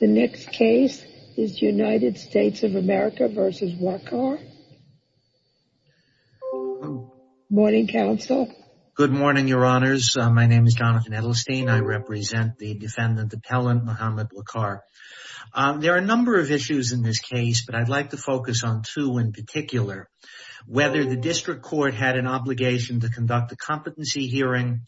The next case is United States of America v. Waqar. Morning, counsel. Good morning, your honors. My name is Jonathan Edelstein. I represent the defendant appellant, Muhammad Waqar. There are a number of issues in this case, but I'd like to focus on two in particular. Whether the district court had an obligation to conduct a competency hearing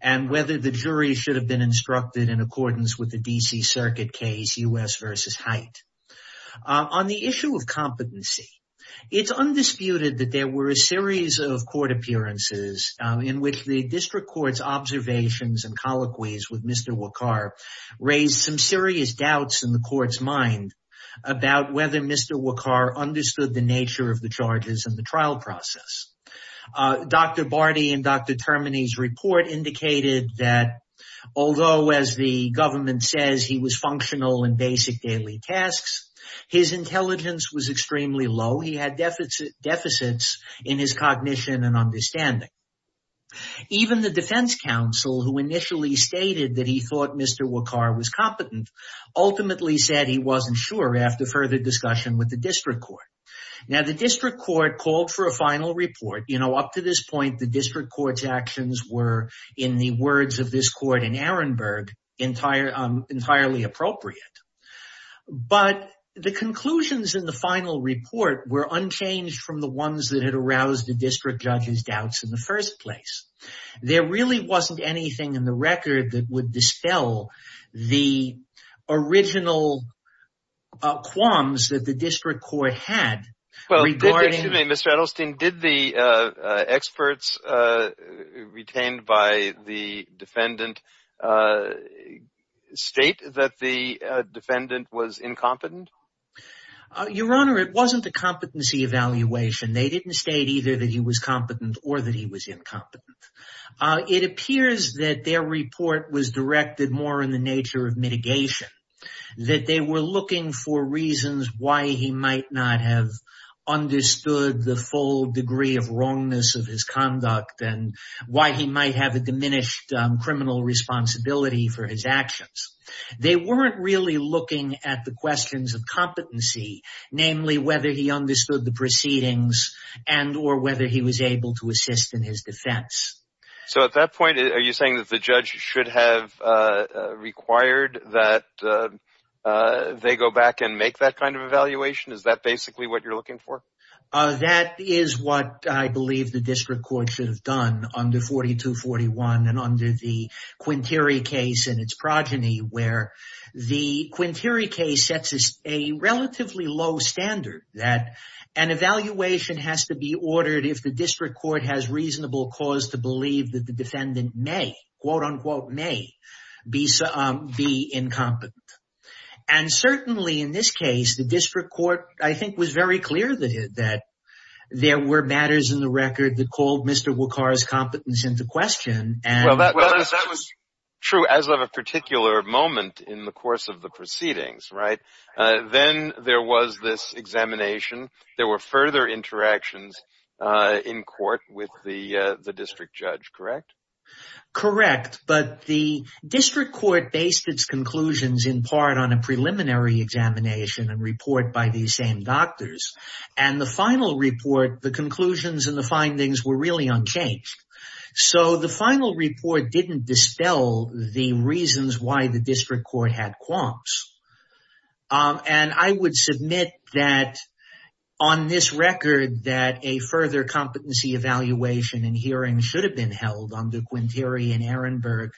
and whether the jury should have been instructed in accordance with the D.C. Circuit case U.S. v. Haidt. On the issue of competency, it's undisputed that there were a series of court appearances in which the district court's observations and colloquies with Mr. Waqar raised some serious doubts in the court's mind about whether Mr. Waqar understood the nature of the charges and the trial process. Dr. Barty and Dr. Termini's report indicated that, although, as the government says, he was functional in basic daily tasks, his intelligence was extremely low. He had deficits in his cognition and understanding. Even the defense counsel, who initially stated that he thought Mr. Waqar was competent, ultimately said he wasn't sure after further discussion with the district court. Now, the district court called for a final report. You know, up to this point, the district court's actions were, in the words of this court in Ehrenberg, entirely appropriate. But the conclusions in the final report were unchanged from the ones that had aroused the district judge's doubts in the first place. There really wasn't anything in the record that would dispel the original qualms that the district court had regarding... Excuse me, Mr. Edelstein, did the experts retained by the defendant state that the defendant was incompetent? Your Honor, it wasn't a competency evaluation. They didn't state either that he was competent or that he was incompetent. It appears that their report was directed more in the nature of mitigation, that they were looking for reasons why he might not have understood the full degree of wrongness of his conduct and why he might have a diminished criminal responsibility for his actions. They weren't really looking at the questions of competency, namely whether he understood the proceedings and or whether he was able to assist in his defense. So at that point, are you saying that the judge should have required that they go back and make that kind of evaluation? Is that basically what you're looking for? That is what I believe the district court should have done under 4241 and under the Quinteri case and its progeny, where the Quinteri case sets a relatively low standard that an evaluation has to be ordered if the district court has reasonable cause to believe that the judge may be incompetent. And certainly in this case, the district court, I think, was very clear that there were matters in the record that called Mr. Wachar's competence into question. Well, that was true as of a particular moment in the course of the proceedings, right? Then there was this examination. There were further interactions in court with the district judge, correct? Correct. But the district court based its conclusions in part on a preliminary examination and report by these same doctors. And the final report, the conclusions and the findings were really unchanged. So the final report didn't dispel the reasons why the district court had qualms. And I would submit that on this record that a further competency evaluation and hearing should have been held under Quinteri and Ehrenberg,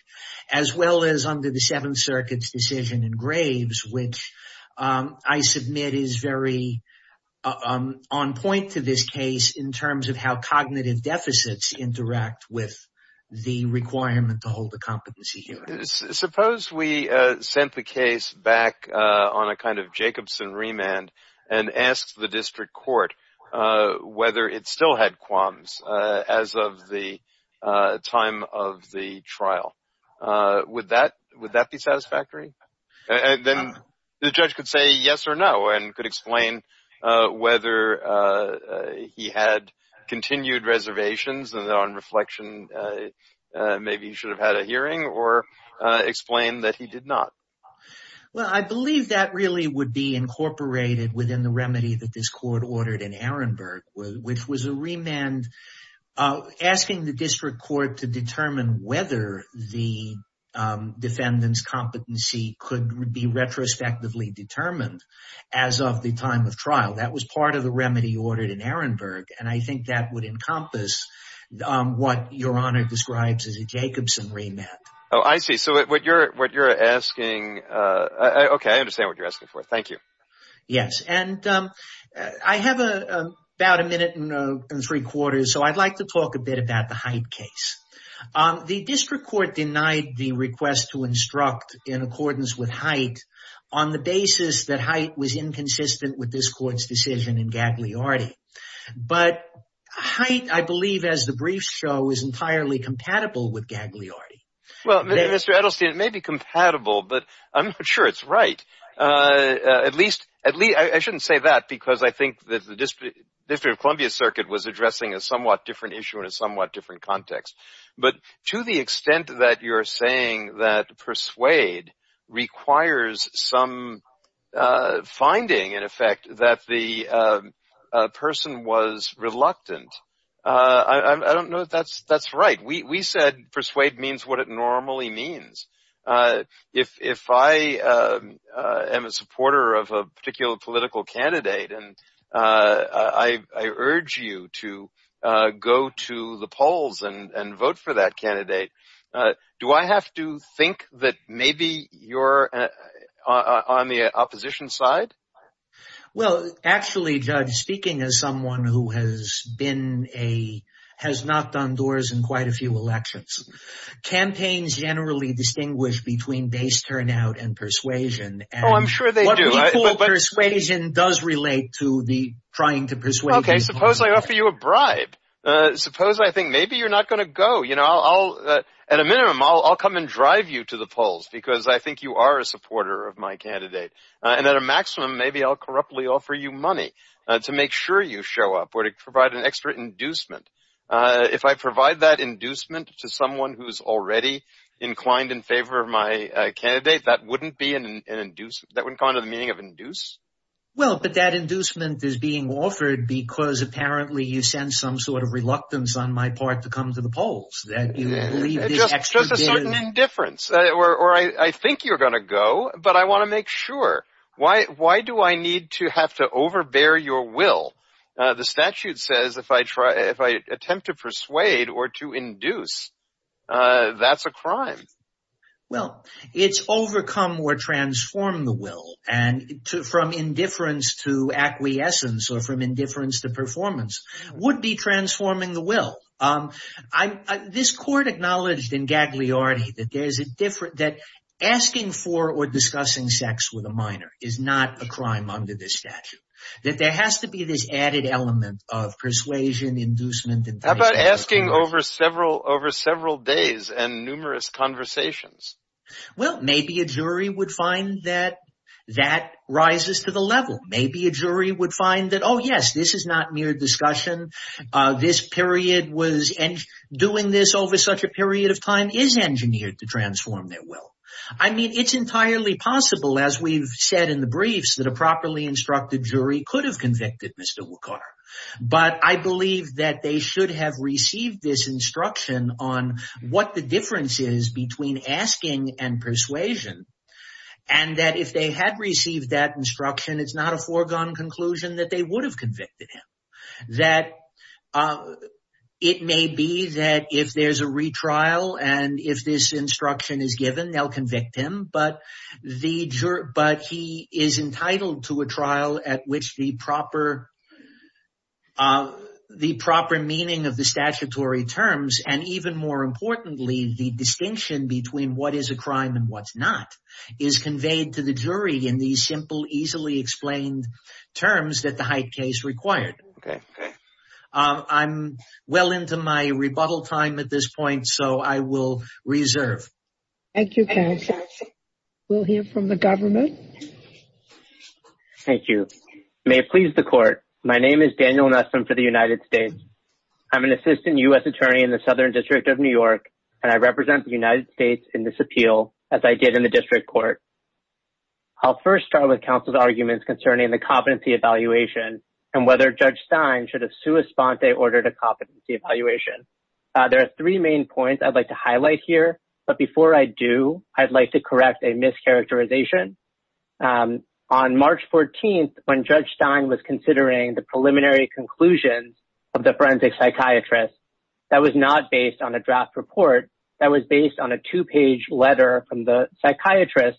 as well as under the Seventh Circuit's decision in Graves, which I submit is very on point to this case in terms of how cognitive deficits interact with the requirement to hold a competency hearing. Suppose we sent the case back on a kind of Jacobson remand and asked the district court whether it still had qualms as of the time of the trial. Would that be satisfactory? Then the judge could say yes or no and could explain whether he had continued reservations and on reflection maybe he should have had a hearing or explain that he did not. Well, I believe that really would be incorporated within the remedy that this was a remand asking the district court to determine whether the defendant's competency could be retrospectively determined as of the time of trial. That was part of the remedy ordered in Ehrenberg and I think that would encompass what Your Honor describes as a Jacobson remand. Oh, I see. So what you're asking... Okay, I understand what you're asking for. Thank you. Yes. And I have about a minute and three quarters so I'd like to talk a bit about the Height case. The district court denied the request to instruct in accordance with Height on the basis that Height was inconsistent with this court's decision in Gagliardi. But Height, I believe as the briefs show, is entirely compatible with Gagliardi. Well, Mr. Edelstein, it may be compatible but I'm not sure it's right. At least, I shouldn't say that because I think that the District of Columbia Circuit was addressing a somewhat different issue in a somewhat different context. But to the extent that you're saying that persuade requires some finding, in effect, that the person was reluctant, I don't know if that's right. We said persuade means what it normally means. If I am a supporter of a particular political candidate and I urge you to go to the polls and vote for that candidate, do I have to think that maybe you're on the opposition side? Well, actually, Judge, speaking as someone who has not done doors in quite a few elections, campaigns generally distinguish between base turnout and persuasion. Oh, I'm sure they do. But persuasion does relate to the trying to persuade people. Okay, suppose I offer you a bribe. Suppose I think maybe you're not going to go. At a minimum, I'll come and drive you to the polls because I think you are a supporter of my candidate. And at a maximum, maybe I'll corruptly offer you money to make sure you show up or to provide an extra inducement. If I provide that inducement to someone who's already inclined in favor of my candidate, that wouldn't be an inducement. That wouldn't come under the meaning of induce. Well, but that inducement is being offered because apparently you sense some sort of reluctance on my part to come to the polls. That you believe this extra bit of... Just a certain indifference. Or I think you're going to go, but I want to make sure. Why do I need to have to overbear your will? The statute says if I attempt to persuade or to induce, that's a crime. Well, it's overcome or transform the will and from indifference to acquiescence or from indifference to performance would be transforming the will. This court acknowledged in Gagliardi that asking for or discussing sex with a minor is not a crime under this statute. That there has to be this added element of persuasion, inducement... How about asking over several days and numerous conversations? Well, maybe a jury would find that that rises to the level. Maybe a jury would find that, oh yes, this is not mere discussion. This period was... Doing this over such a period of time is engineered to transform their will. I mean, it's entirely possible, as we've said in the briefs, that a properly instructed jury could have convicted Mr. Waqar. But I believe that they should have received this instruction on what the difference is between asking and persuasion. And that if they had received that instruction, it's not a foregone conclusion that they would have convicted him. That it may be that if there's a retrial and if this instruction is given, they'll convict him. But he is entitled to a trial at which the proper meaning of the statutory terms, and even more importantly, the distinction between what is a crime and what's not, is conveyed to the jury in these simple, easily explained terms that the Haidt case required. I'm well into my rebuttal time at this point, so I will reserve. Thank you, counsel. We'll hear from the government. Thank you. May it please the court. My name is Daniel Nesson for the United States. I'm an assistant U.S. attorney in the Southern District of New York, and I represent the United States in this appeal, as I did in the district court. I'll first start with counsel's arguments concerning the competency evaluation and whether Judge Stein should have sua sponte ordered a competency evaluation. There are three main points I'd like to highlight here. But before I do, I'd like to correct a mischaracterization. On March 14th, when Judge Stein was considering the preliminary conclusions of the forensic psychiatrist, that was not based on a draft report. That was based on a two-page letter from the psychiatrist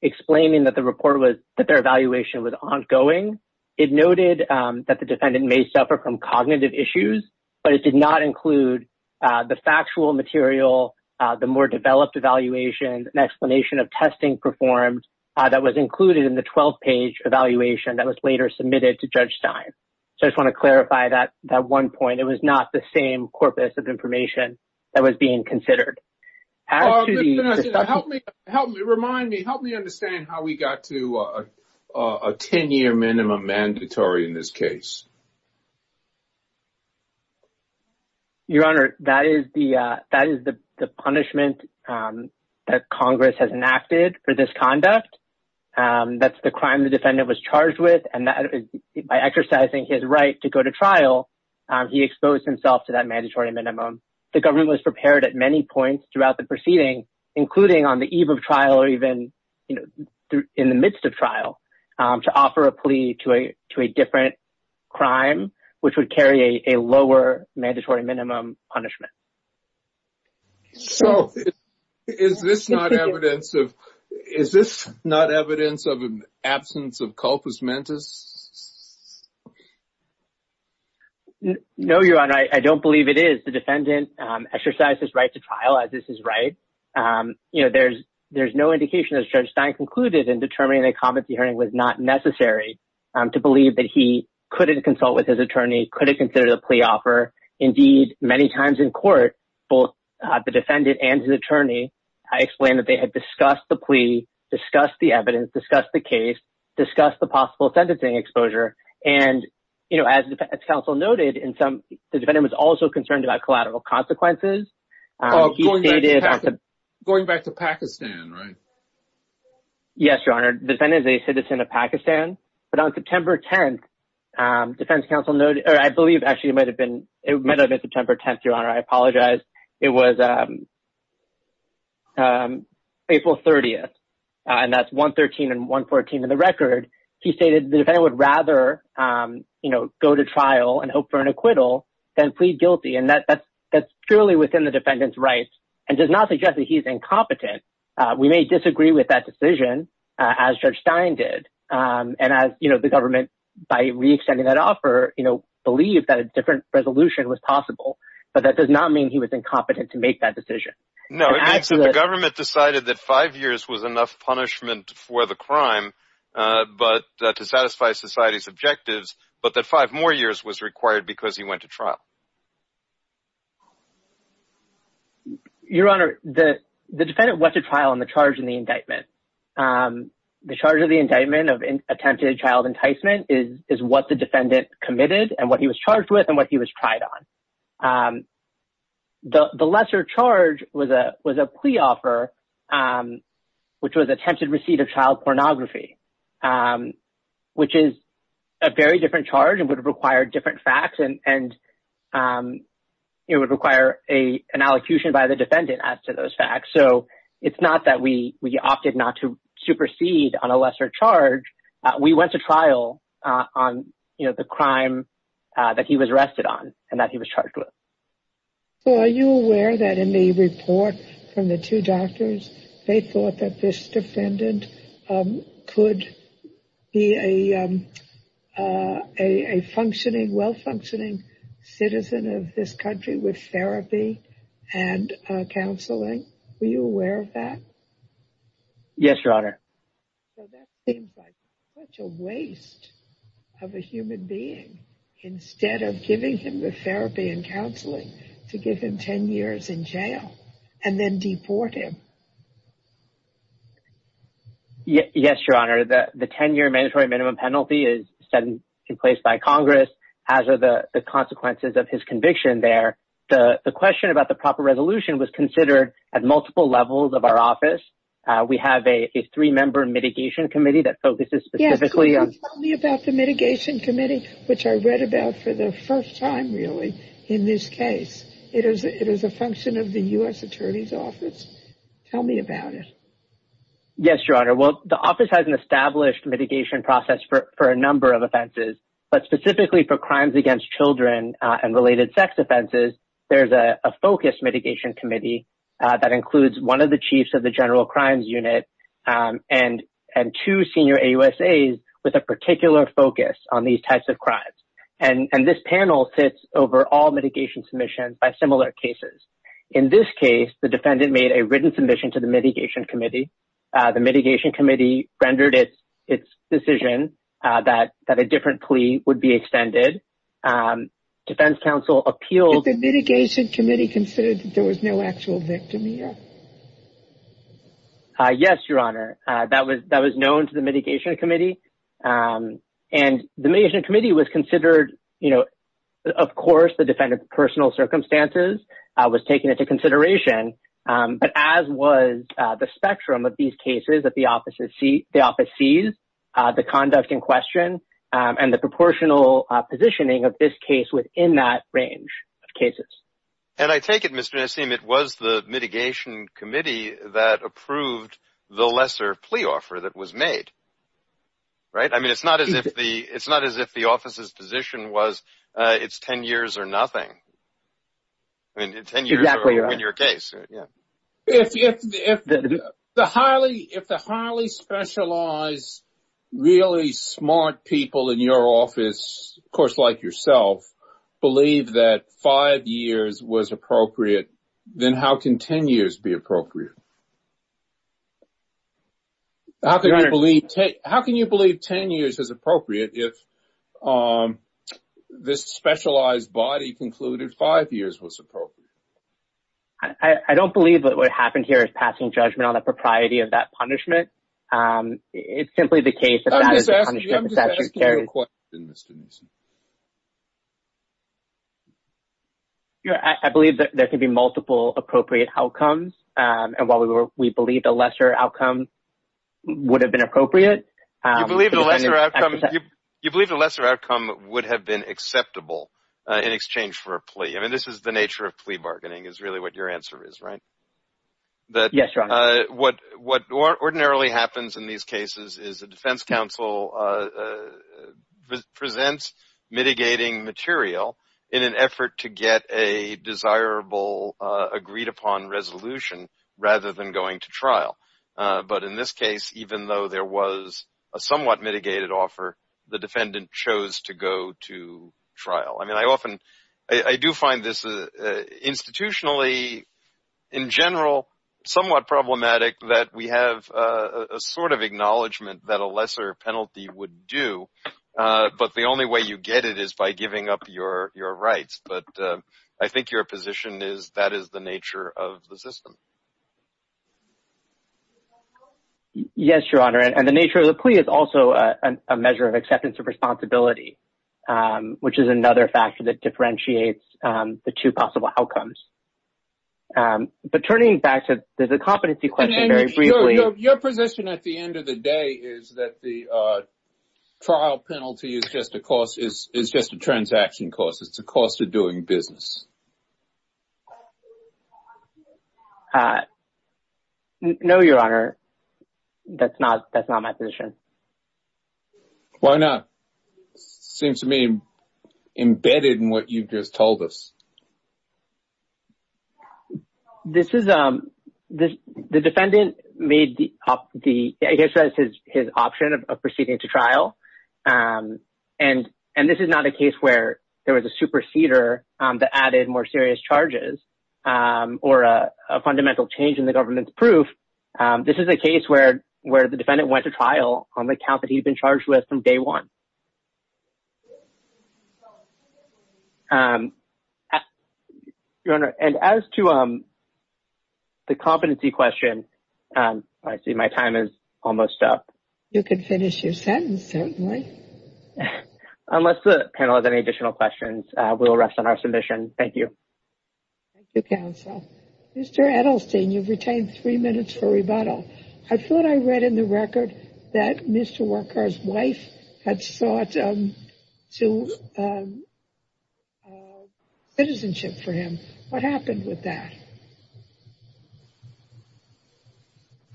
explaining that the report was that their evaluation was ongoing. It noted that the defendant may suffer from cognitive issues, but it did not include the factual material, the more developed evaluation and explanation of testing performed that was included in the 12-page evaluation that was later submitted to Judge Stein. So I just want to clarify that one point. It was not the same corpus of information that was being considered. Actually, help me. Help me. Remind me. Help me understand how we got to a 10-year minimum mandatory in this case. Your Honor, that is the punishment that Congress has enacted for this conduct. That's the crime the defendant was charged with, and by exercising his right to go to trial, he exposed himself to that mandatory minimum. The government was prepared at many points throughout the proceeding, including on the eve of trial or even in the midst of trial, to offer a plea to a different crime, which would carry a lower mandatory minimum punishment. So is this not evidence of absence of corpus mentis? No, Your Honor. I don't believe it is. The defendant exercised his right to trial, as is his right. There's no indication, as Judge Stein concluded in determining that competency hearing was not necessary, to believe that he couldn't consult with his attorney, couldn't consider the plea offer. Indeed, many times in court, both the defendant and his attorney, I explained that they had discussed the plea, discussed the evidence, discussed the case, discussed the possible sentencing exposure. And as the defense counsel noted, the defendant was also concerned about collateral consequences. Going back to Pakistan, right? Yes, Your Honor. The defendant is a citizen of Pakistan. But on September 10th, defense counsel noted, or I believe actually it might have been September 10th, Your Honor. I apologize. It was April 30th, and that's 113 and 114 in the record. He stated the defendant would rather, you know, go to trial and hope for an acquittal than plead guilty. And that's purely within the defendant's rights and does not suggest that he's incompetent. We may disagree with that decision, as Judge Stein did. And as, you know, the government, by re-extending that offer, you know, believed that a different resolution was possible. But that does not mean he was incompetent to make that decision. No, it means that the government decided that five years was enough punishment for the crime. But to satisfy society's objectives. But that five more years was required because he went to trial. Your Honor, the defendant went to trial on the charge and the indictment. The charge of the indictment of attempted child enticement is what the defendant committed and what he was charged with and what he was tried on. The lesser charge was a plea offer, which was attempted receipt of child pornography, which is a very different charge and would require different facts and, you know, would require an allocution by the defendant as to those facts. So it's not that we opted not to supersede on a lesser charge. We went to trial on, you know, the crime that he was arrested on and that he was charged with. So are you aware that in the report from the two doctors, they thought that this defendant could be a functioning, well-functioning citizen of this country with therapy and counseling? Were you aware of that? Yes, Your Honor. So that seems like such a waste of a human being. Instead of giving him the therapy and counseling to give him 10 years in jail and then deport him. Yes, Your Honor. The 10-year mandatory minimum penalty is set in place by Congress, as are the consequences of his conviction there. The question about the proper resolution was considered at multiple levels of our office. We have a three-member mitigation committee that focuses specifically on... for the first time, really, in this case. It is a function of the U.S. Attorney's Office. Tell me about it. Yes, Your Honor. Well, the office has an established mitigation process for a number of offenses. But specifically for crimes against children and related sex offenses, there's a focused mitigation committee that includes one of the chiefs of the General Crimes Unit and two senior AUSAs with a particular focus on these types of crimes. And this panel sits over all mitigation submissions by similar cases. In this case, the defendant made a written submission to the mitigation committee. The mitigation committee rendered its decision that a different plea would be extended. Defense counsel appealed... Did the mitigation committee consider that there was no actual victim here? Yes, Your Honor. That was known to the mitigation committee. And the mitigation committee was considered... Of course, the defendant's personal circumstances was taken into consideration. But as was the spectrum of these cases that the office sees, the conduct in question, and the proportional positioning of this case within that range of cases. And I take it, Mr. Nassim, it was the mitigation committee that approved the lesser plea offer that was made? Right? I mean, it's not as if the office's position was, it's 10 years or nothing. I mean, 10 years in your case. Exactly right. Yeah. If the highly specialized, really smart people in your office, of course, like yourself, believe that five years was appropriate, then how can 10 years be appropriate? How can you believe 10 years is appropriate if this specialized body concluded five years was appropriate? I don't believe that what happened here is passing judgment on the propriety of that punishment. It's simply the case that that is a punishment. I'm just asking you a question, Mr. Nassim. Yeah, I believe that there can be multiple appropriate outcomes. And while we believe the lesser outcome would have been appropriate. You believe the lesser outcome would have been acceptable in exchange for a plea? I mean, this is the nature of plea bargaining is really what your answer is, right? Yes, Your Honor. What ordinarily happens in these cases is the defense counsel presents mitigating material in an effort to get a desirable agreed upon resolution rather than going to trial. But in this case, even though there was a somewhat mitigated offer, the defendant chose to go to trial. I mean, I often, I do find this institutionally in general, somewhat problematic that we have a sort of acknowledgement that a lesser penalty would do. But the only way you get it is by giving up your rights. But I think your position is that is the nature of the system. Yes, Your Honor. And the nature of the plea is also a measure of acceptance of responsibility, which is another factor that differentiates the two possible outcomes. Um, but turning back to the competency question very briefly. Your position at the end of the day is that the trial penalty is just a cost, is just a transaction cost. It's a cost of doing business. No, Your Honor. That's not, that's not my position. Why not? Seems to me embedded in what you've just told us. Um, this is, um, this, the defendant made the, I guess that's his option of proceeding to trial. Um, and, and this is not a case where there was a superseder that added more serious charges, or a fundamental change in the government's proof. This is a case where, where the defendant went to trial on the count that he'd been charged with from day one. Um, Your Honor. And as to, um, the competency question, um, I see my time is almost up. You can finish your sentence, certainly. Unless the panel has any additional questions, uh, we'll rest on our submission. Thank you. Thank you, counsel. Mr. Edelstein, you've retained three minutes for rebuttal. I thought I read in the record that Mr. Walker's wife had sought, um, to, um, citizenship for him. What happened with that?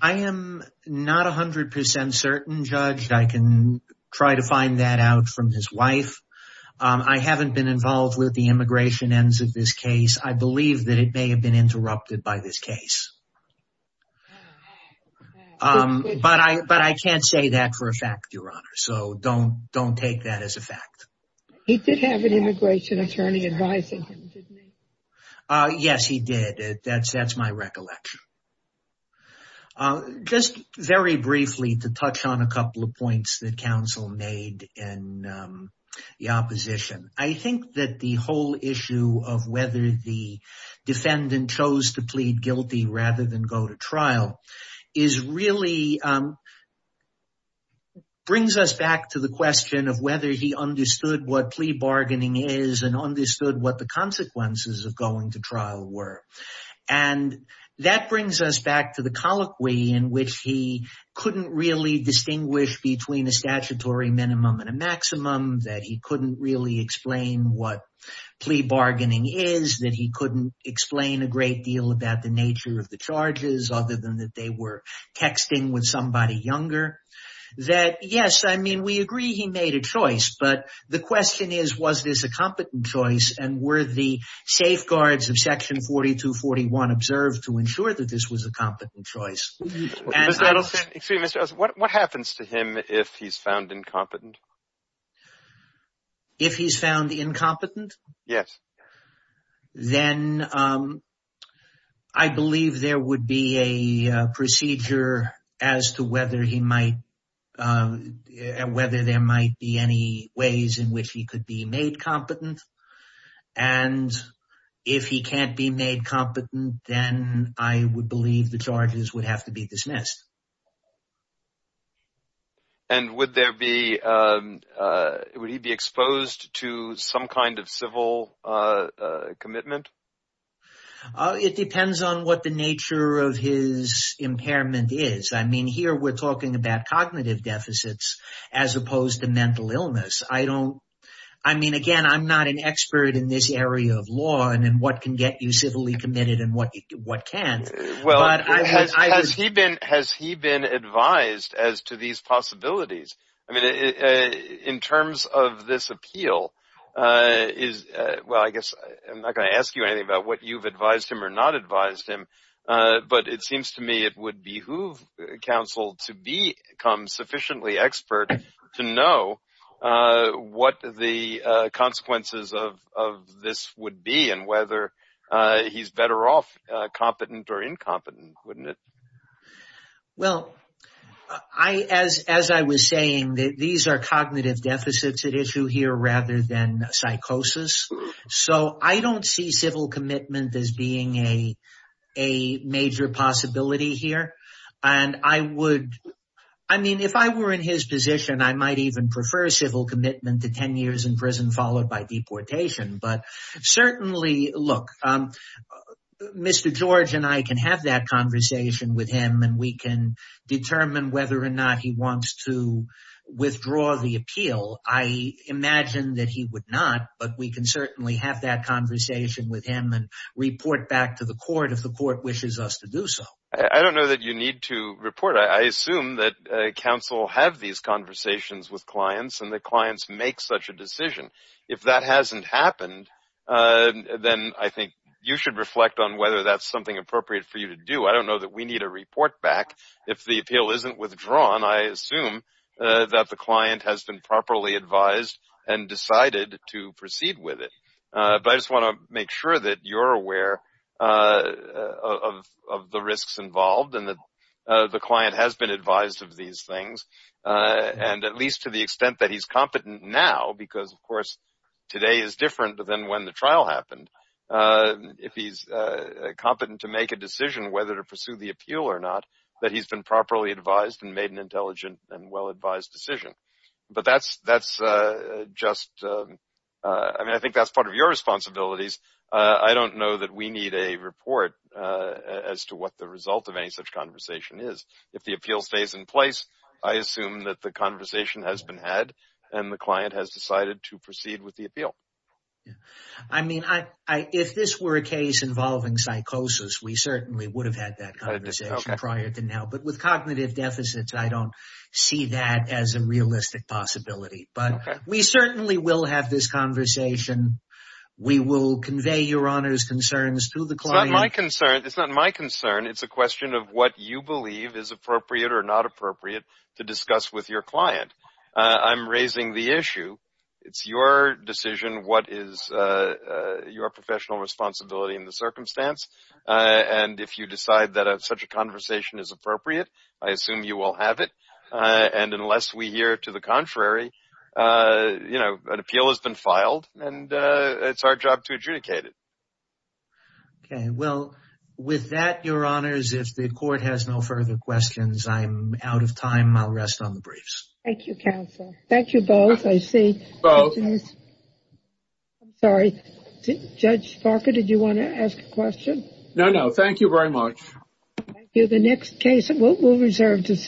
I am not a hundred percent certain, Judge. I can try to find that out from his wife. Um, I haven't been involved with the immigration ends of this case. I believe that it may have been interrupted by this case. Um, but I, but I can't say that for a fact, Your Honor. So don't, don't take that as a fact. He did have an immigration attorney advising him, didn't he? Uh, yes, he did. That's, that's my recollection. Uh, just very briefly to touch on a couple of points that counsel made in, um, the opposition. I think that the whole issue of whether the defendant chose to plead guilty rather than go to trial is really, um, brings us back to the question of whether he understood what plea bargaining is and understood what the consequences of going to trial were. And that brings us back to the colloquy in which he couldn't really distinguish between a statutory minimum and a maximum, that he couldn't really explain what plea bargaining is, that he couldn't explain a great deal about the nature of the charges other than that they were texting with somebody younger. That, yes, I mean, we agree he made a choice. But the question is, was this a competent choice? And were the safeguards of section 4241 observed to ensure that this was a competent choice? Mr. Adelson, excuse me, Mr. Adelson, what happens to him if he's found incompetent? If he's found incompetent? Yes. Then, um, I believe there would be a procedure as to whether he might, um, whether there might be any ways in which he could be made competent. And if he can't be made competent, then I would believe the charges would have to be dismissed. And would there be, um, uh, would he be exposed to some kind of civil, uh, uh, commitment? Uh, it depends on what the nature of his impairment is. I mean, here we're talking about cognitive deficits as opposed to mental illness. I don't, I mean, again, I'm not an expert in this area of law and what can get you civilly committed and what, what can't. Well, has he been, has he been advised as to these possibilities? I mean, in terms of this appeal, uh, is, uh, well, I guess I'm not going to ask you anything about what you've advised him or not advised him. Uh, but it seems to me it would behoove counsel to become sufficiently expert to know, uh, what the, uh, consequences of, of this would be and whether, uh, he's better off, uh, competent or incompetent, wouldn't it? Well, I, as, as I was saying that these are cognitive deficits at issue here rather than psychosis. So I don't see civil commitment as being a, a major possibility here. And I would, I mean, if I were in his position, I might even prefer civil commitment to 10 years in prison followed by deportation. But certainly, look, um, Mr. George and I can have that conversation with him and we can determine whether or not he wants to withdraw the appeal. I imagine that he would not, but we can certainly have that conversation with him and report back to the court if the court wishes us to do so. I don't know that you need to report. I assume that, uh, counsel have these conversations with clients and the clients make such a decision. If that hasn't happened, uh, then I think you should reflect on whether that's something appropriate for you to do. I don't know that we need a report back if the appeal isn't withdrawn. I assume, uh, that the client has been properly advised and decided to proceed with it. Uh, but I just want to make sure that you're aware, uh, of, of the risks involved and that, uh, the client has been advised of these things, uh, and at least to the extent that he's competent now because of course today is different than when the trial happened. Uh, if he's, uh, competent to make a decision whether to pursue the appeal or not, that he's been properly advised and made an intelligent and well-advised decision. But that's, that's, uh, just, uh, uh, I mean, I think that's part of your responsibilities. Uh, I don't know that we need a report, uh, as to what the result of any such conversation is. If the appeal stays in place, I assume that the conversation has been had and the client has decided to proceed with the appeal. I mean, I, I, if this were a case involving psychosis, we certainly would have had that conversation prior to now, but with cognitive deficits, I don't see that as a realistic possibility, but we certainly will have this conversation. We will convey your honor's concerns to the client. It's not my concern. It's not my concern. It's a question of what you believe is appropriate or not appropriate to discuss with your client. Uh, I'm raising the issue. It's your decision. What is, uh, uh, your professional responsibility in the circumstance? Uh, and if you decide that such a conversation is appropriate, I assume you will have it. Uh, and unless we hear to the contrary, uh, you know, an appeal has been filed and, uh, it's our job to adjudicate it. Okay. Well, with that, your honors, if the court has no further questions, I'm out of time. I'll rest on the briefs. Thank you, counsel. Thank you both. I see both. I'm sorry. Judge Parker, did you want to ask a question? No, no. Thank you very much. Thank you. The next case we'll, we'll reserve to see.